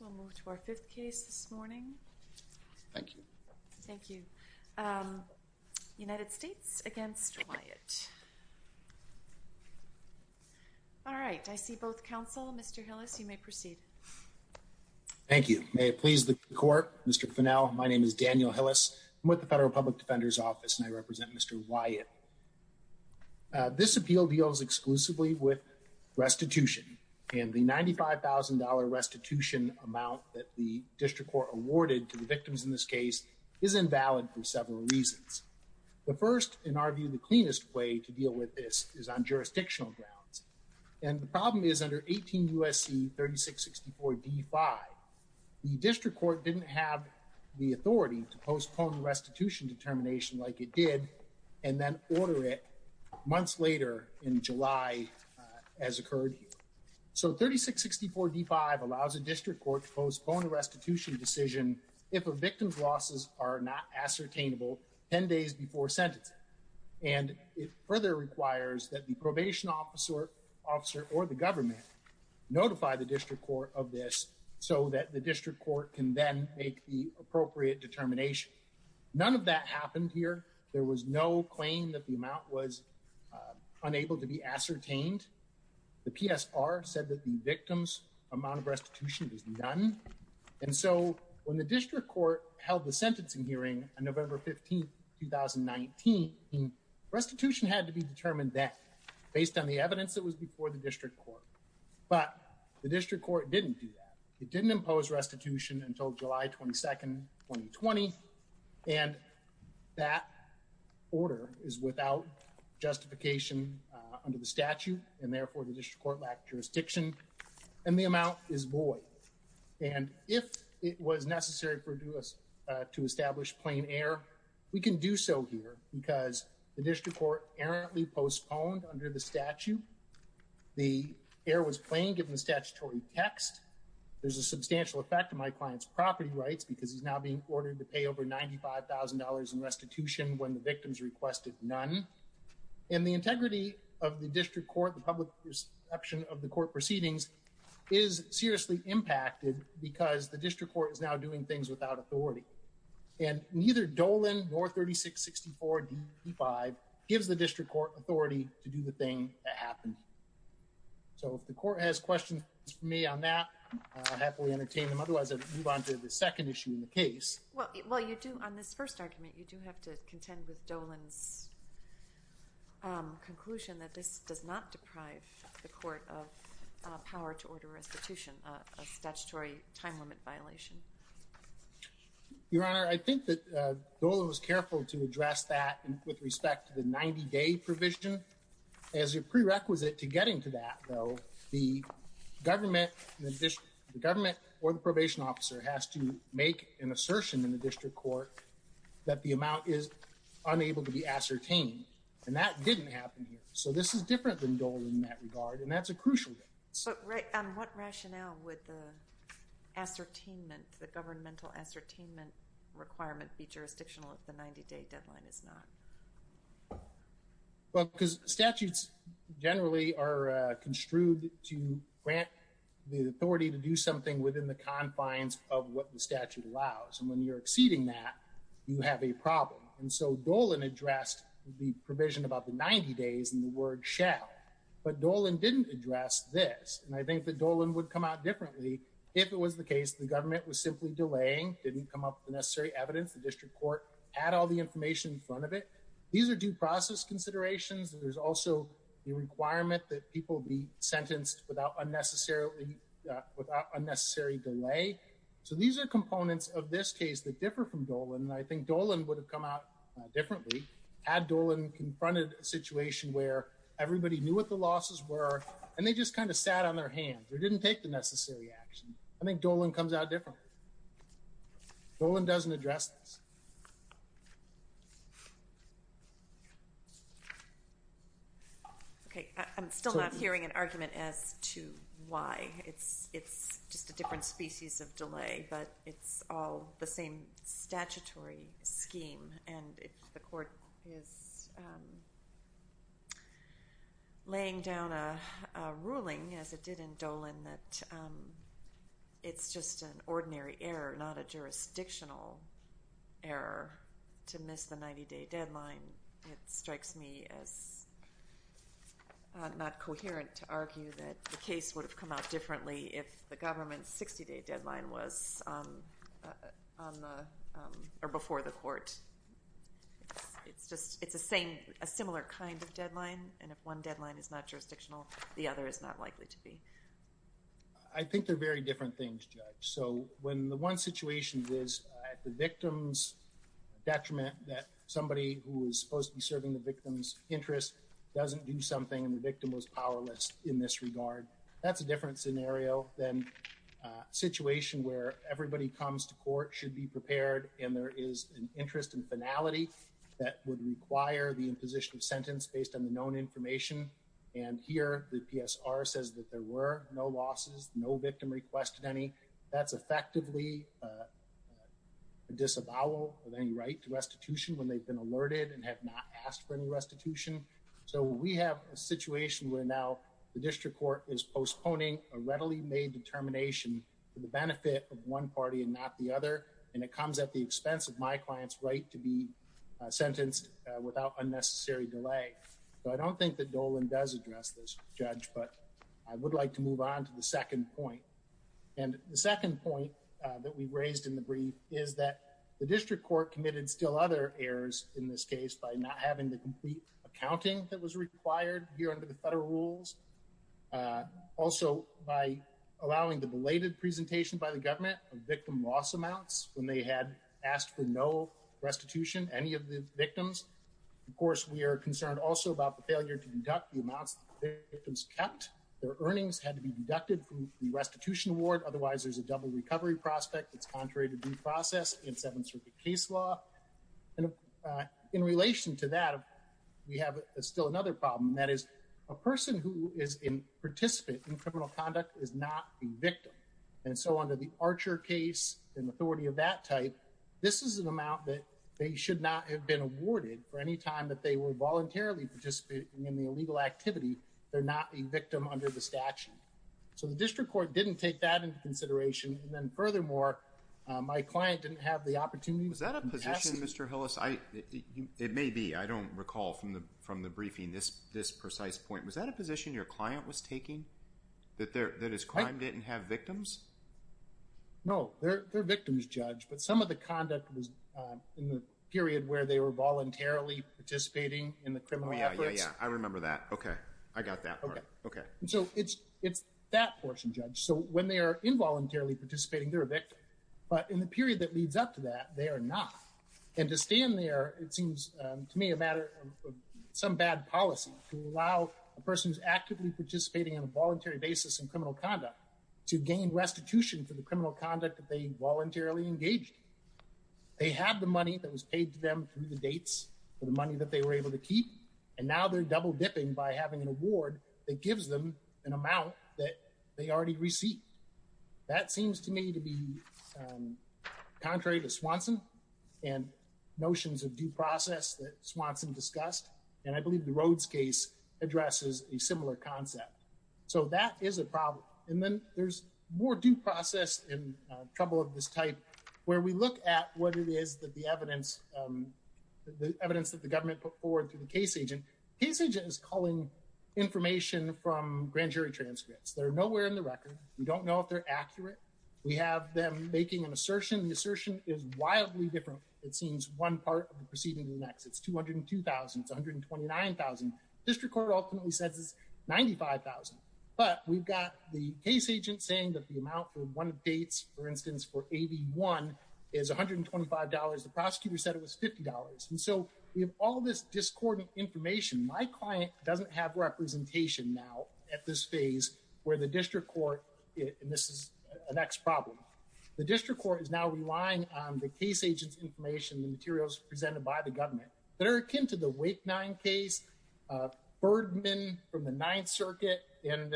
We'll move to our fifth case this morning. Thank you. Thank you. United States against Wyatt. All right. I see both counsel. Mr. Hillis, you may proceed. Thank you. May it please the court. Mr. Fennell, my name is Daniel Hillis. I'm with the Federal Public Defender's Office and I represent Mr. Wyatt. This appeal deals exclusively with restitution and the $95,000 restitution amount that the district court awarded to the victims in this case is invalid for several reasons. The first, in our view, the cleanest way to deal with this is on jurisdictional grounds. And the problem is under 18 U.S.C. 3664 D-5, the district court didn't have the authority to postpone the restitution determination like it did and then order it months later in July as occurred. So 3664 D-5 allows a district court to postpone a restitution decision if a victim's losses are not ascertainable 10 days before sentencing. And it further requires that the probation officer or the government notify the district court of this so that the None of that happened here. There was no claim that the amount was unable to be ascertained. The PSR said that the victim's amount of restitution was none. And so when the district court held the sentencing hearing on November 15, 2019, restitution had to be determined then based on the evidence that was before the district court. But the district court didn't do that. It didn't impose restitution until July 22, 2020. And that order is without justification under the statute. And therefore, the district court lacked jurisdiction and the amount is void. And if it was necessary for us to establish plain error, we can do so here because the district court errantly postponed under the statute. The error was plain given the statutory text. There's a substantial effect to my client's property rights because he's now being ordered to pay over $95,000 in restitution when the victim's requested none. And the integrity of the district court, the public perception of the court proceedings is seriously impacted because the district court is now doing things without authority. And neither Dolan nor 3664 D5 gives the district court authority to do the thing that happened. So if the court has questions for me on that, I'll happily entertain them. Otherwise, I'll move on to the second issue in the case. Well, while you do on this first argument, you do have to contend with Dolan's conclusion that this does not deprive the court of power to order restitution, a statutory time limit violation. Your Honor, I think that Dolan was careful to address that with respect to the 90-day provision. As a prerequisite to getting to that, though, the government or the probation officer has to make an assertion in the district court that the amount is unable to be ascertained. And that didn't happen here. So this is different than Dolan in that regard, and that's a crucial thing. So on what rationale would the ascertainment, the governmental ascertainment requirement be jurisdictional if the 90-day deadline is not? Well, because statutes generally are construed to grant the authority to do something within the confines of what the statute allows. And when you're exceeding that, you have a problem. And so Dolan addressed the provision about the 90 days in the word shall. But Dolan didn't address this. And I think that Dolan would come out differently if it was the case the government was simply delaying, didn't come up with the necessary evidence, the district court had all the information in front of it. These are due process considerations. There's also the requirement that people be sentenced without unnecessary delay. So these are components of this case that differ from Dolan. And I think Dolan would have come out differently had Dolan confronted a situation where everybody knew what the losses were, and they just kind of sat on their hands or didn't take the necessary action. I think Dolan comes out differently. Dolan doesn't address this. Okay. I'm still not hearing an argument as to why. It's just a different species of delay, but it's all the same statutory scheme. And the court is laying down a ruling, as it did in Dolan, that it's just an ordinary error, not a jurisdictional error to miss the 90-day deadline. It strikes me as not coherent to argue that the case would have come out differently if the government's 60-day deadline was before the court. It's a similar kind of deadline, and if one I think they're very different things, Judge. So when the one situation is at the victim's detriment that somebody who is supposed to be serving the victim's interests doesn't do something, and the victim was powerless in this regard, that's a different scenario than a situation where everybody comes to court, should be prepared, and there is an interest and finality that would require the imposition of sentence based on the known information. And here, the PSR says that there were no losses, no victim requested any. That's effectively a disavowal of any right to restitution when they've been alerted and have not asked for any restitution. So we have a situation where now the district court is postponing a readily made determination for the benefit of one party and not the other, and it comes at the expense of my client's right to be sentenced without unnecessary delay. So I don't think that Dolan does address this, Judge, but I would like to move on to the second point. And the second point that we raised in the brief is that the district court committed still other errors in this case by not having the complete accounting that was required here under the federal rules, also by allowing the belated presentation by the government of victim loss amounts when they had asked for no restitution, any of the victims. Of course, we are concerned also about the failure to conduct the amounts the victims kept. Their earnings had to be deducted from the restitution award, otherwise there's a double recovery prospect that's contrary to due process in Seventh Circuit case law. And in relation to that, we have still another problem, and that is a person who is in participant in criminal conduct is not a victim. And so under the Archer case and authority of that type, this is an amount that they should not have been awarded for any time that they were voluntarily participating in the illegal activity. They're not a victim under the statute. So the district court didn't take that into consideration. And then furthermore, my client didn't have the opportunity. Was that a position, Mr. Hillis? It may be, I don't recall from the briefing this precise point. Was that a position your client was taking, that his client didn't have victims? No, they're victims, Judge, but some of the conduct was in the period where they were voluntarily participating in the criminal efforts. Oh, yeah, yeah, yeah. I remember that. Okay. I got that part. Okay. So it's that portion, Judge. So when they are involuntarily participating, they're a victim. But in the period that leads up to that, they are not. And to stand there, it seems to me a matter of some bad policy to allow a person who's actively participating on a voluntary basis in criminal conduct to gain restitution for the criminal conduct that they voluntarily engaged in. They have the money that was paid to them through the dates for the money that they were able to keep. And now they're double dipping by having an award that gives them an amount that they already received. That seems to me to be contrary to Swanson and notions of due process that Swanson discussed. And I believe the Rhodes case addresses a similar concept. So that is a problem. And then there's more due process and trouble of this type where we look at what it is that the evidence that the government put forward to the case agent. Case agent is calling information from grand jury transcripts that are nowhere in the record. We don't know if they're accurate. We have them making an assertion. The assertion is wildly different. It seems one part of the proceeding to the next. It's 202,000. It's 129,000. District Court ultimately says it's 95,000. But we've got the case agent saying that the amount for one of dates, for instance, for AB1 is $125. The prosecutor said it was $50. And so we have all this discordant information. My client doesn't have representation now at this phase where the district court, and this is the next problem. The district court is now relying on the case agent's information, the materials presented by the government that are akin to the Wake Nine case, Bergman from the Ninth Circuit, and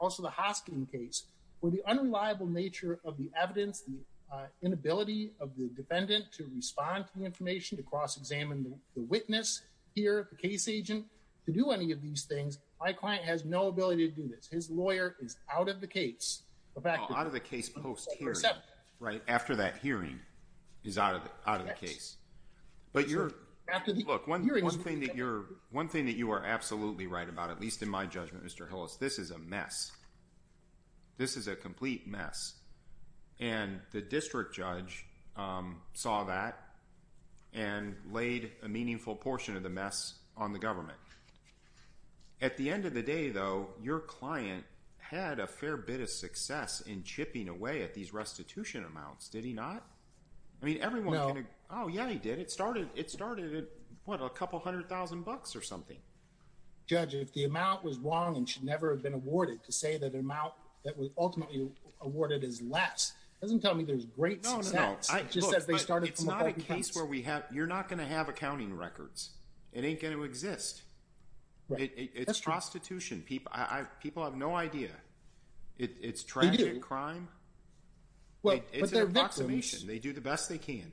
also the Hoskin case. With the unreliable nature of the evidence, the inability of the defendant to respond to the information, to cross-examine the witness here, the case agent, to do any of these things, my client has no ability to do this. His lawyer is out of the case. Out of the case post-hearing, right after that hearing is out of the case. One thing that you are absolutely right about, at least in my judgment, Mr. Hillis, this is a mess. This is a complete mess. And the district judge saw that and laid a meaningful portion of the mess on the government. At the end of the day, though, your client had a fair bit of success in chipping away at these restitution amounts, did he not? I mean, everyone can agree. Oh, yeah, he did. It started at, what, a couple hundred thousand bucks or something. Judge, if the amount was wrong and should never have been awarded to say that the amount that was ultimately awarded is less, it doesn't tell me there's great success. No, no, no. It just says they started from a It ain't going to exist. It's prostitution. People have no idea. It's tragic crime. It's an approximation. They do the best they can.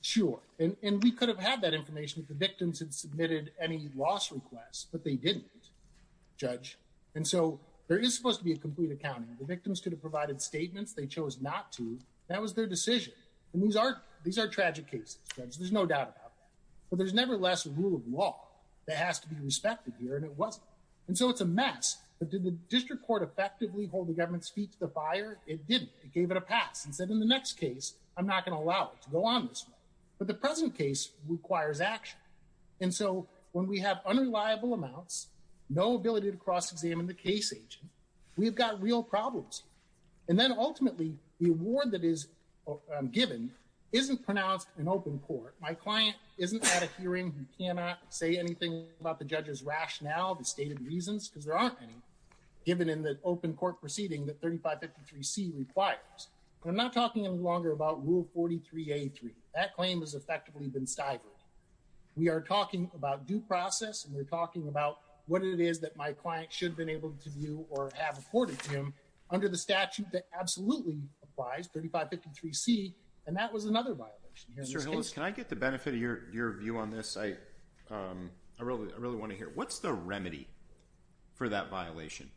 Sure. And we could have had that information if the victims had submitted any loss requests, but they didn't, Judge. And so there is supposed to be a complete accounting. The victims could have provided statements. They chose not to. That was their decision. And these are tragic cases, Judge. There's no doubt about that. But there's never less rule of law that has to be respected here, and it wasn't. And so it's a mess. But did the district court effectively hold the government's feet to the fire? It didn't. It gave it a pass and said, in the next case, I'm not going to allow it to go on this way. But the present case requires action. And so when we have unreliable amounts, no ability to cross-examine the case agent, we've got real problems. And then ultimately, the award that is given isn't pronounced in open court. My client isn't at a hearing who cannot say anything about the judge's rationale, the stated reasons, because there aren't any, given in the open court proceeding that 3553C requires. I'm not talking any longer about Rule 43A3. That claim has effectively been stifled. We are talking about due process, and we're talking about what it is that my client should have been able to view or have reported to him under the statute that absolutely applies, 3553C, and that was another violation. Mr. Hillis, can I get the benefit of your view on this? I really want to hear. What's the remedy for that violation?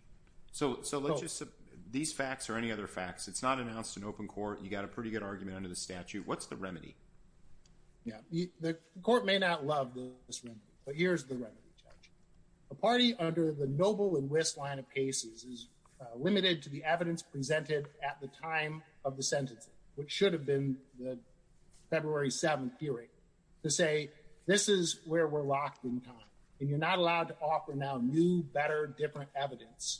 So let's just, these facts or any other facts, it's not announced in open court. You got a pretty good argument under the statute. What's the remedy? Yeah. The court may not love this remedy, but here's the remedy, Judge. A party under the limited to the evidence presented at the time of the sentencing, which should have been the February 7th hearing, to say this is where we're locked in time, and you're not allowed to offer now new, better, different evidence.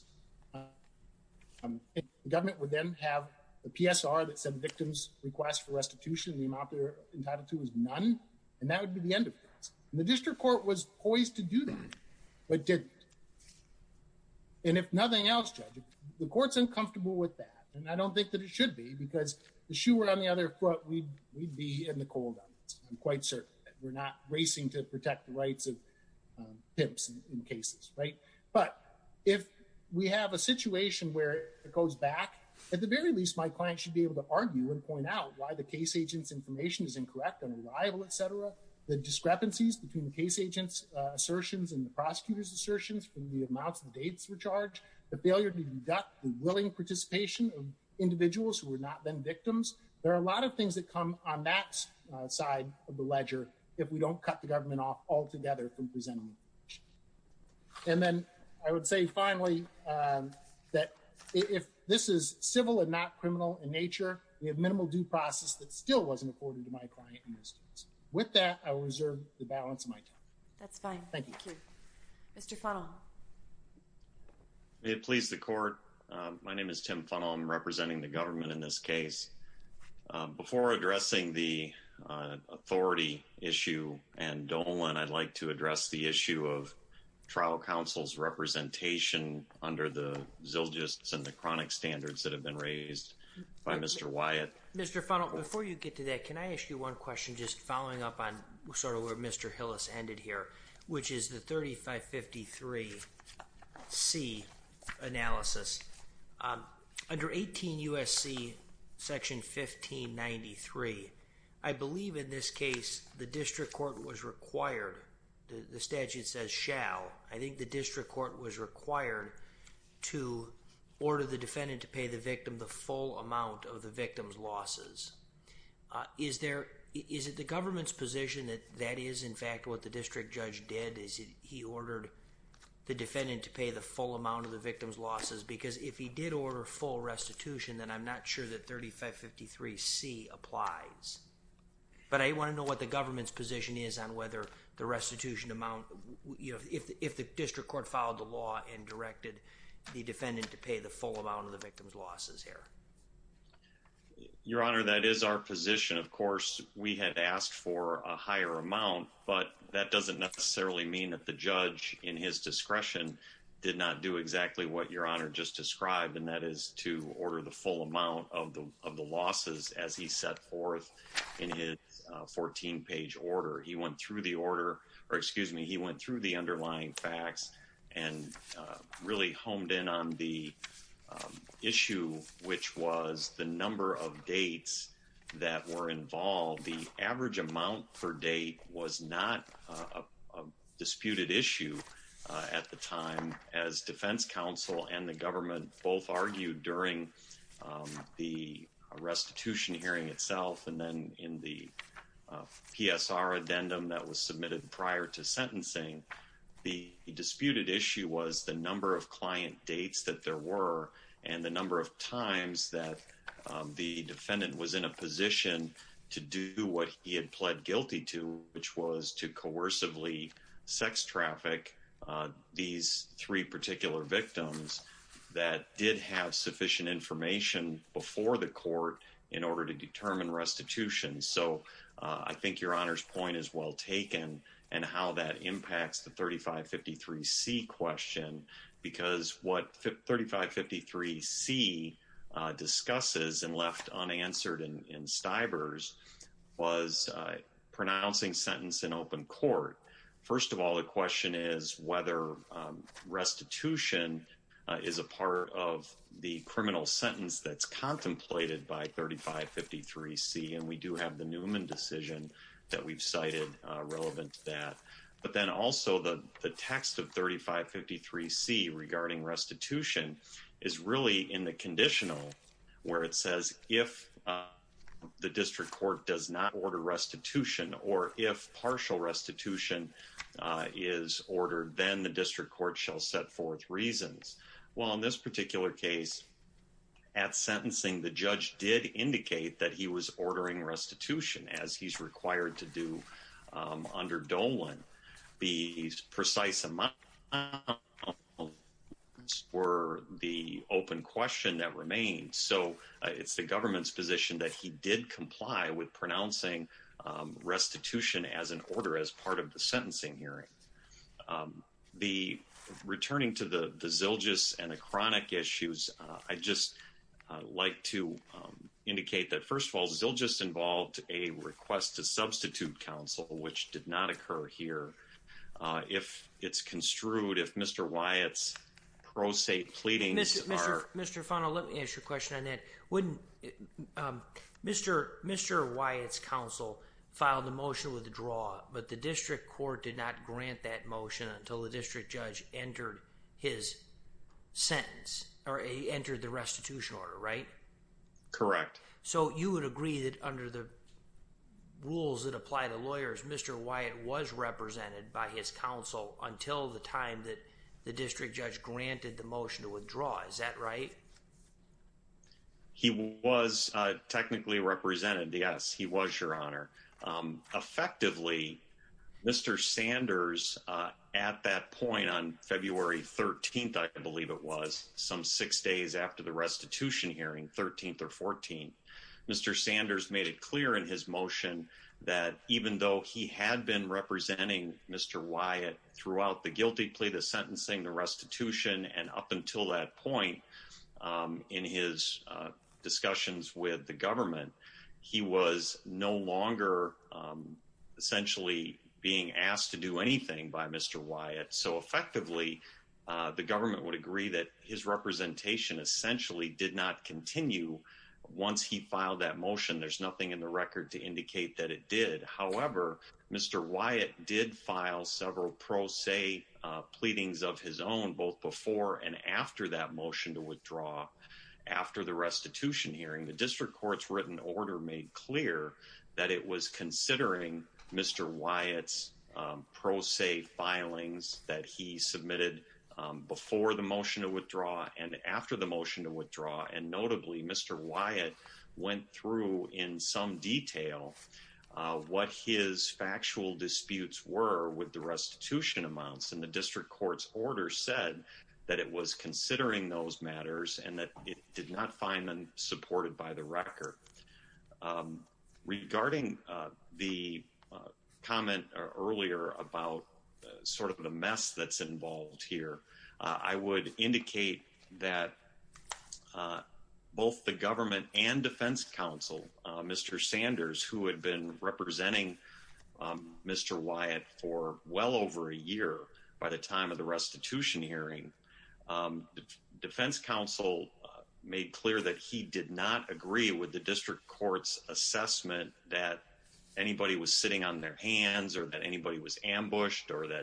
The government would then have a PSR that said the victim's request for restitution, the immobilizer entitled to, was none, and that would be the end of it. And the district court was poised to do that, but didn't. And if nothing else, Judge, the court's uncomfortable with that, and I don't think that it should be, because if the shoe were on the other foot, we'd be in the cold on it. I'm quite certain that we're not racing to protect the rights of pimps in cases, right? But if we have a situation where it goes back, at the very least, my client should be able to argue and point out why the case agent's between the case agent's assertions and the prosecutor's assertions from the amounts of dates were charged, the failure to deduct the willing participation of individuals who were not then victims. There are a lot of things that come on that side of the ledger if we don't cut the government off altogether from presenting. And then I would say, finally, that if this is civil and not criminal in nature, we have minimal due process that still wasn't afforded to my clients. With that, I will reserve the balance of my time. That's fine. Thank you. Mr. Funnell. May it please the court. My name is Tim Funnell. I'm representing the government in this case. Before addressing the authority issue and Dolan, I'd like to address the issue of trial counsel's representation under the Zilgis and the chronic standards that have been raised by Mr. Wyatt. Mr. Funnell, before you get to that, can I ask you one question just following up on sort of where Mr. Hillis ended here, which is the 3553C analysis. Under 18 U.S.C. section 1593, I believe in this case, the district court was required, the statute says shall, I think the district court was required to order the defendant to pay the victim the full amount of the victim's losses. Is there, is it the government's position that that is in fact what the district judge did? Is it he ordered the defendant to pay the full amount of the victim's losses? Because if he did order full restitution, then I'm not sure that 3553C applies. But I want to know what the government's position is on whether the restitution amount, you know, if the district court followed the law and directed the defendant to pay the full amount of the victim's losses here. Your Honor, that is our position. Of course, we had asked for a higher amount, but that doesn't necessarily mean that the judge in his discretion did not do exactly what Your Honor just described, and that is to order the full amount of the losses as he set forth in his 14-page order. He went through the order, or excuse me, he went through the underlying facts and really honed in on the issue, which was the number of dates that were involved. The average amount per date was not a disputed issue at the time, as defense counsel and the government both argued during the restitution hearing itself and then in the PSR addendum that was submitted prior to the restitution hearing. So, the number of dates that there were and the number of times that the defendant was in a position to do what he had pled guilty to, which was to coercively sex traffic these three particular victims that did have sufficient information before the court in order to determine restitution. So, I think Your Honor's point is well taken and how that impacts the 3553C question, because what 3553C discusses and left unanswered in Stivers was pronouncing sentence in open court. First of all, the question is whether restitution is a part of the criminal sentence that's contemplated by 3553C, and we do have the Newman decision that we've cited relevant to that. But then also, the text of 3553C regarding restitution is really in the conditional where it says if the district court does not order restitution, or if partial restitution is ordered, then the district court shall set forth reasons. Well, in this particular case, at sentencing, the judge did indicate that he was ordering restitution as he's required to do under Dolan. The precise amount were the open question that remained. So, it's the government's position that he did comply with pronouncing restitution as an order as part of the sentencing hearing. The returning to the Zilgis and the chronic issues, I'd just like to indicate that first of all, Zilgis involved a request to substitute counsel, which did not occur here. If it's construed, if Mr. Wyatt's prosaic pleadings are... Mr. Funnell, let me ask you a question on that. Mr. Wyatt's counsel filed a motion to withdraw, but the district court did not grant that motion until the district judge entered his sentence, or entered the restitution order, right? Correct. So, you would agree that under the rules that apply to lawyers, Mr. Wyatt was represented by his counsel until the time that the district judge granted the motion to withdraw. Is that right? He was technically represented. Yes, he was, Your Honor. Effectively, Mr. Sanders at that point on February 13th, I believe it was, some six days after the restitution hearing, 13th or 14th, Mr. Sanders made it clear in his motion that even though he had been representing Mr. Wyatt throughout the guilty plea, the sentencing, the restitution, and up until that point in his discussions with the government, he was no longer essentially being asked to do anything by Mr. Wyatt. So effectively, the government would agree that his representation essentially did not continue once he filed that motion. There's nothing in the record to indicate that it did. However, Mr. Wyatt did file several pro se pleadings of his own both before and after that motion to withdraw after the restitution hearing. The district court's written order made clear that it was considering Mr. Wyatt's pro se filings that he submitted before the motion to withdraw. And notably, Mr. Wyatt went through in some detail what his factual disputes were with the restitution amounts. And the district court's order said that it was considering those matters and that it did not find them supported by the record. Regarding the comment earlier about sort of the mess that's involved here, I would indicate that both the government and defense counsel, Mr. Sanders, who had been representing Mr. Wyatt for well over a year by the time of the restitution hearing, defense counsel made clear that he did not agree with the district court's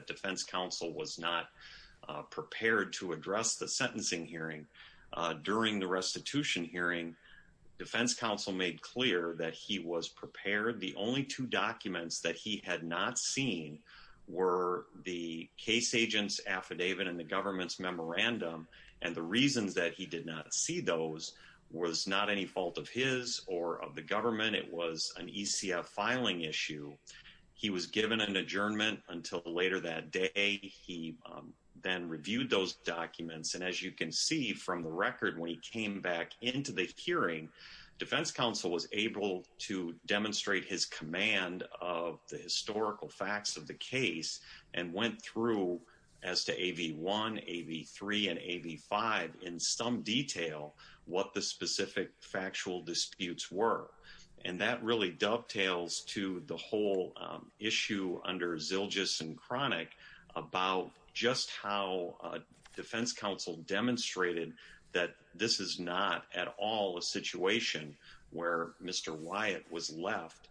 defense counsel was not prepared to address the sentencing hearing during the restitution hearing. Defense counsel made clear that he was prepared. The only two documents that he had not seen were the case agent's affidavit and the government's memorandum. And the reasons that he did not see those was not any fault of his or of the government. It was an ECF filing issue. He was given an adjournment until later that day. He then reviewed those documents. And as you can see from the record, when he came back into the hearing, defense counsel was able to demonstrate his command of the historical facts of the case and went through as to AV1, AV3, and AV5 in some issue under Zilgis and Cronick about just how defense counsel demonstrated that this is not at all a situation where Mr. Wyatt was left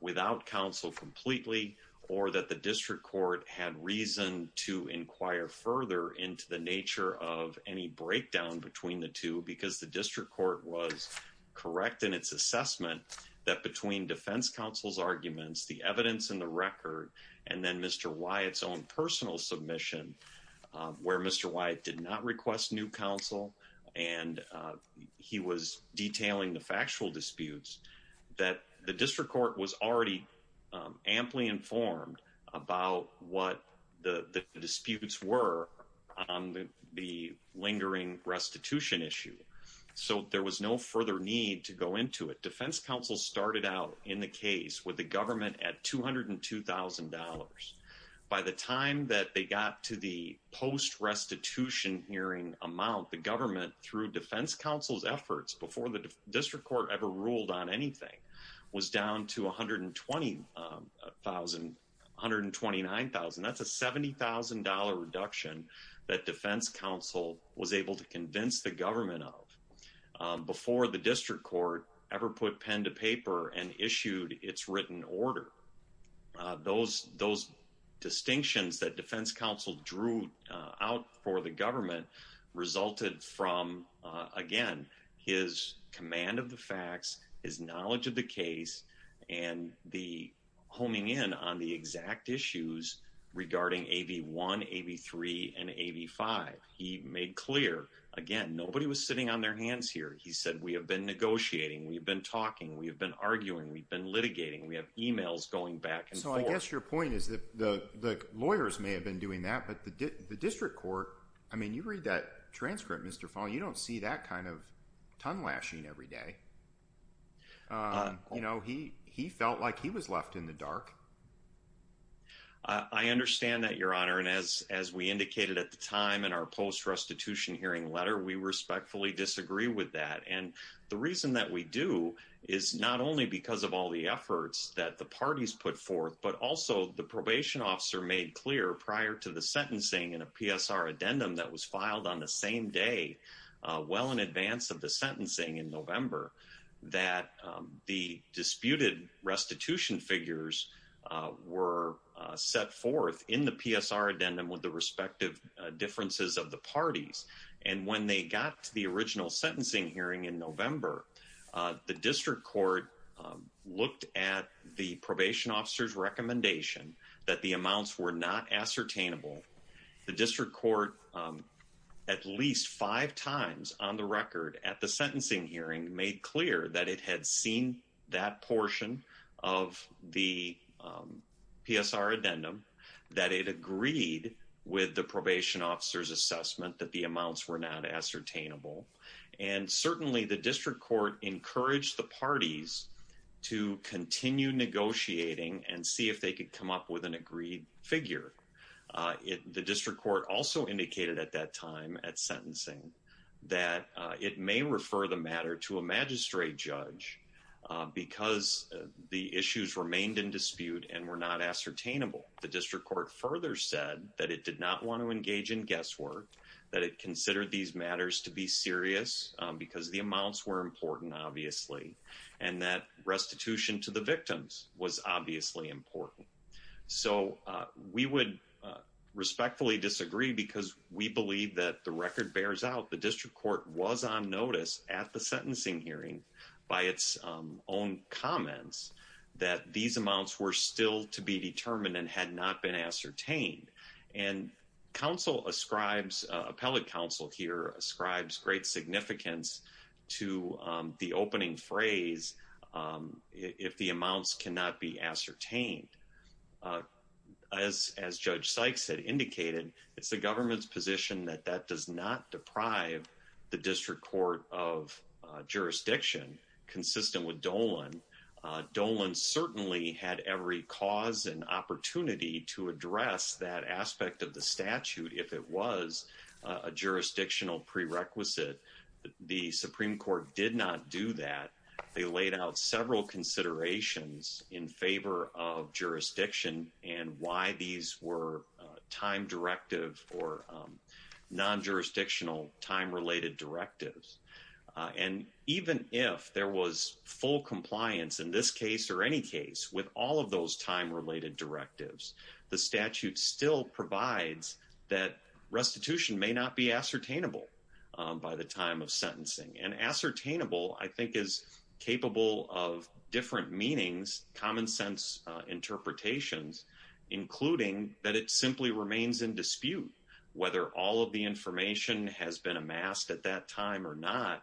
without counsel completely or that the district court had reason to inquire further into the nature of any breakdown between the two because the evidence in the record and then Mr. Wyatt's own personal submission where Mr. Wyatt did not request new counsel and he was detailing the factual disputes, that the district court was already amply informed about what the disputes were on the lingering restitution issue. So there was no further need to go into it. Defense counsel started out in the case with government at $202,000. By the time that they got to the post-restitution hearing amount, the government through defense counsel's efforts before the district court ever ruled on anything was down to $129,000. That's a $70,000 reduction that defense counsel was able to convince the district court that this was not an issue that was in order. Those distinctions that defense counsel drew out for the government resulted from, again, his command of the facts, his knowledge of the case, and the homing in on the exact issues regarding AV1, AV3, and AV5. He made clear, again, nobody was sitting on their hands here. He said, we have been negotiating, we've been talking, we've been arguing, we've been litigating, we have emails going back and forth. So I guess your point is that the lawyers may have been doing that, but the district court, I mean, you read that transcript, Mr. Fahl, you don't see that kind of tonelashing every day. He felt like he was left in the dark. I understand that, Your Honor, and as we indicated at the time in our post-restitution hearing letter, we respectfully disagree with that. And the reason that we do is not only because of all the efforts that the parties put forth, but also the probation officer made clear prior to the sentencing in a PSR addendum that was filed on the same day, well in advance of the sentencing in November, that the disputed restitution figures were set forth in the PSR addendum with the original sentencing hearing in November. The district court looked at the probation officer's recommendation that the amounts were not ascertainable. The district court at least five times on the record at the sentencing hearing made clear that it had seen that portion of the PSR addendum, that it agreed with the probation officer's assessment that the amounts were not ascertainable. And certainly the district court encouraged the parties to continue negotiating and see if they could come up with an agreed figure. The district court also indicated at that time at sentencing that it may refer the matter to a magistrate judge because the issues remained in dispute and were not ascertainable. The district court further said that it did not want to engage in guesswork, that it considered these matters to be serious because the amounts were important obviously, and that restitution to the victims was obviously important. So we would respectfully disagree because we believe that the record bears out the district court was on notice at the sentencing hearing by its own comments that these amounts were still to be determined and had not been ascertained. And appellate counsel here ascribes great significance to the opening phrase, if the amounts cannot be ascertained. As Judge Sykes had indicated, it's the government's position that that does not deprive the district court of jurisdiction consistent with Dolan. Dolan certainly had every cause and opportunity to address that aspect of the statute if it was a jurisdictional prerequisite. The Supreme Court did not do that. They laid out several considerations in favor of jurisdiction and why these were time directive or non-jurisdictional time-related directives. And even if there was full compliance in this case or any case with all of those time-related directives, the statute still provides that restitution may not be ascertainable by the time of sentencing. And ascertainable, I think, is capable of different meanings, common sense interpretations, including that it simply remains in dispute whether all of the information has been amassed at that time or not.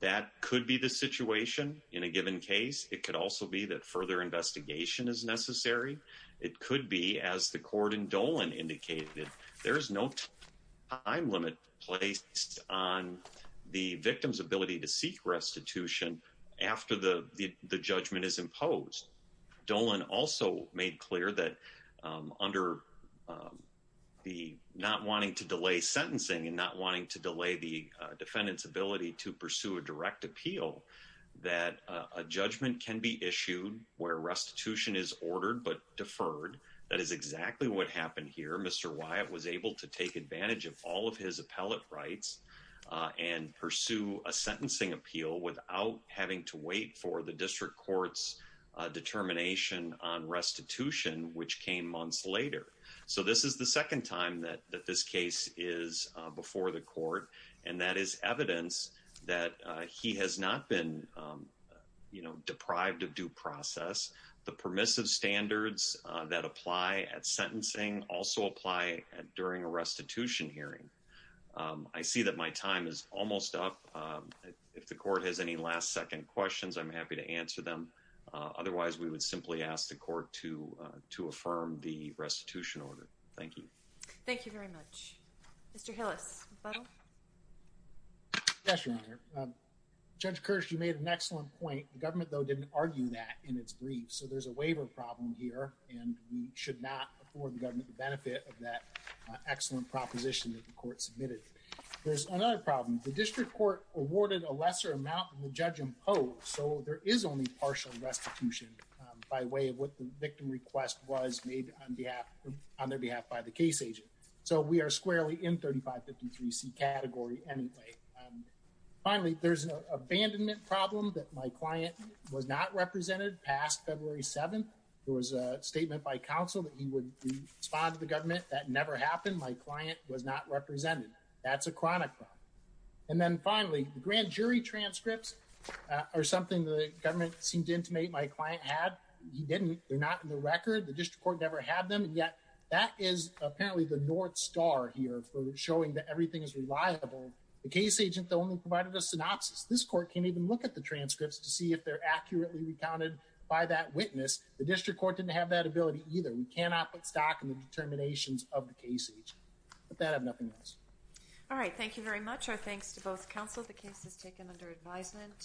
That could be the situation in a given case. It could also be that further investigation is necessary. It could be, as the court in Dolan indicated, there is no time limit placed on the victim's ability to seek restitution after the judgment is imposed. Dolan also made clear that under the not wanting to delay sentencing and not wanting to delay the defendant's ability to pursue a direct appeal, that a judgment can be issued where restitution is ordered but deferred. That is exactly what happened here. Mr. Wyatt was able to take advantage of all of his appellate rights and pursue a sentencing appeal without having to wait for the district court's determination on restitution, which came months later. So this is the second time that this case is before the court, and that is evidence that he has not been deprived of due process. The permissive standards that apply at sentencing also apply during a restitution hearing. I see that my time is almost up. If the court has any last second questions, I'm happy to answer them. Otherwise, we would simply ask the court to affirm the restitution order. Thank you. Thank you very much. Mr. Hillis. Yes, Your Honor. Judge Kirsch, you made an excellent point. The government, though, didn't argue that in its brief. So there's a waiver problem here, and we should not afford the government the benefit of that waiver. There's another problem. The district court awarded a lesser amount than the judge imposed, so there is only partial restitution by way of what the victim request was made on their behalf by the case agent. So we are squarely in 3553C category anyway. Finally, there's an abandonment problem that my client was not represented past February 7th. There was a statement by counsel that he would respond to the government. That never happened. My client was not represented. That's a chronic problem. And then finally, the grand jury transcripts are something the government seemed to intimate my client had. He didn't. They're not in the record. The district court never had them, and yet that is apparently the north star here for showing that everything is reliable. The case agent only provided a synopsis. This court can't even look at the transcripts to see if they're accurately recounted by that witness. The district court didn't have that ability either. We cannot put stock in the determinations of the case agent. With that, I have nothing else. All right, thank you very much. Our thanks to both counsel. The case is taken under advisement.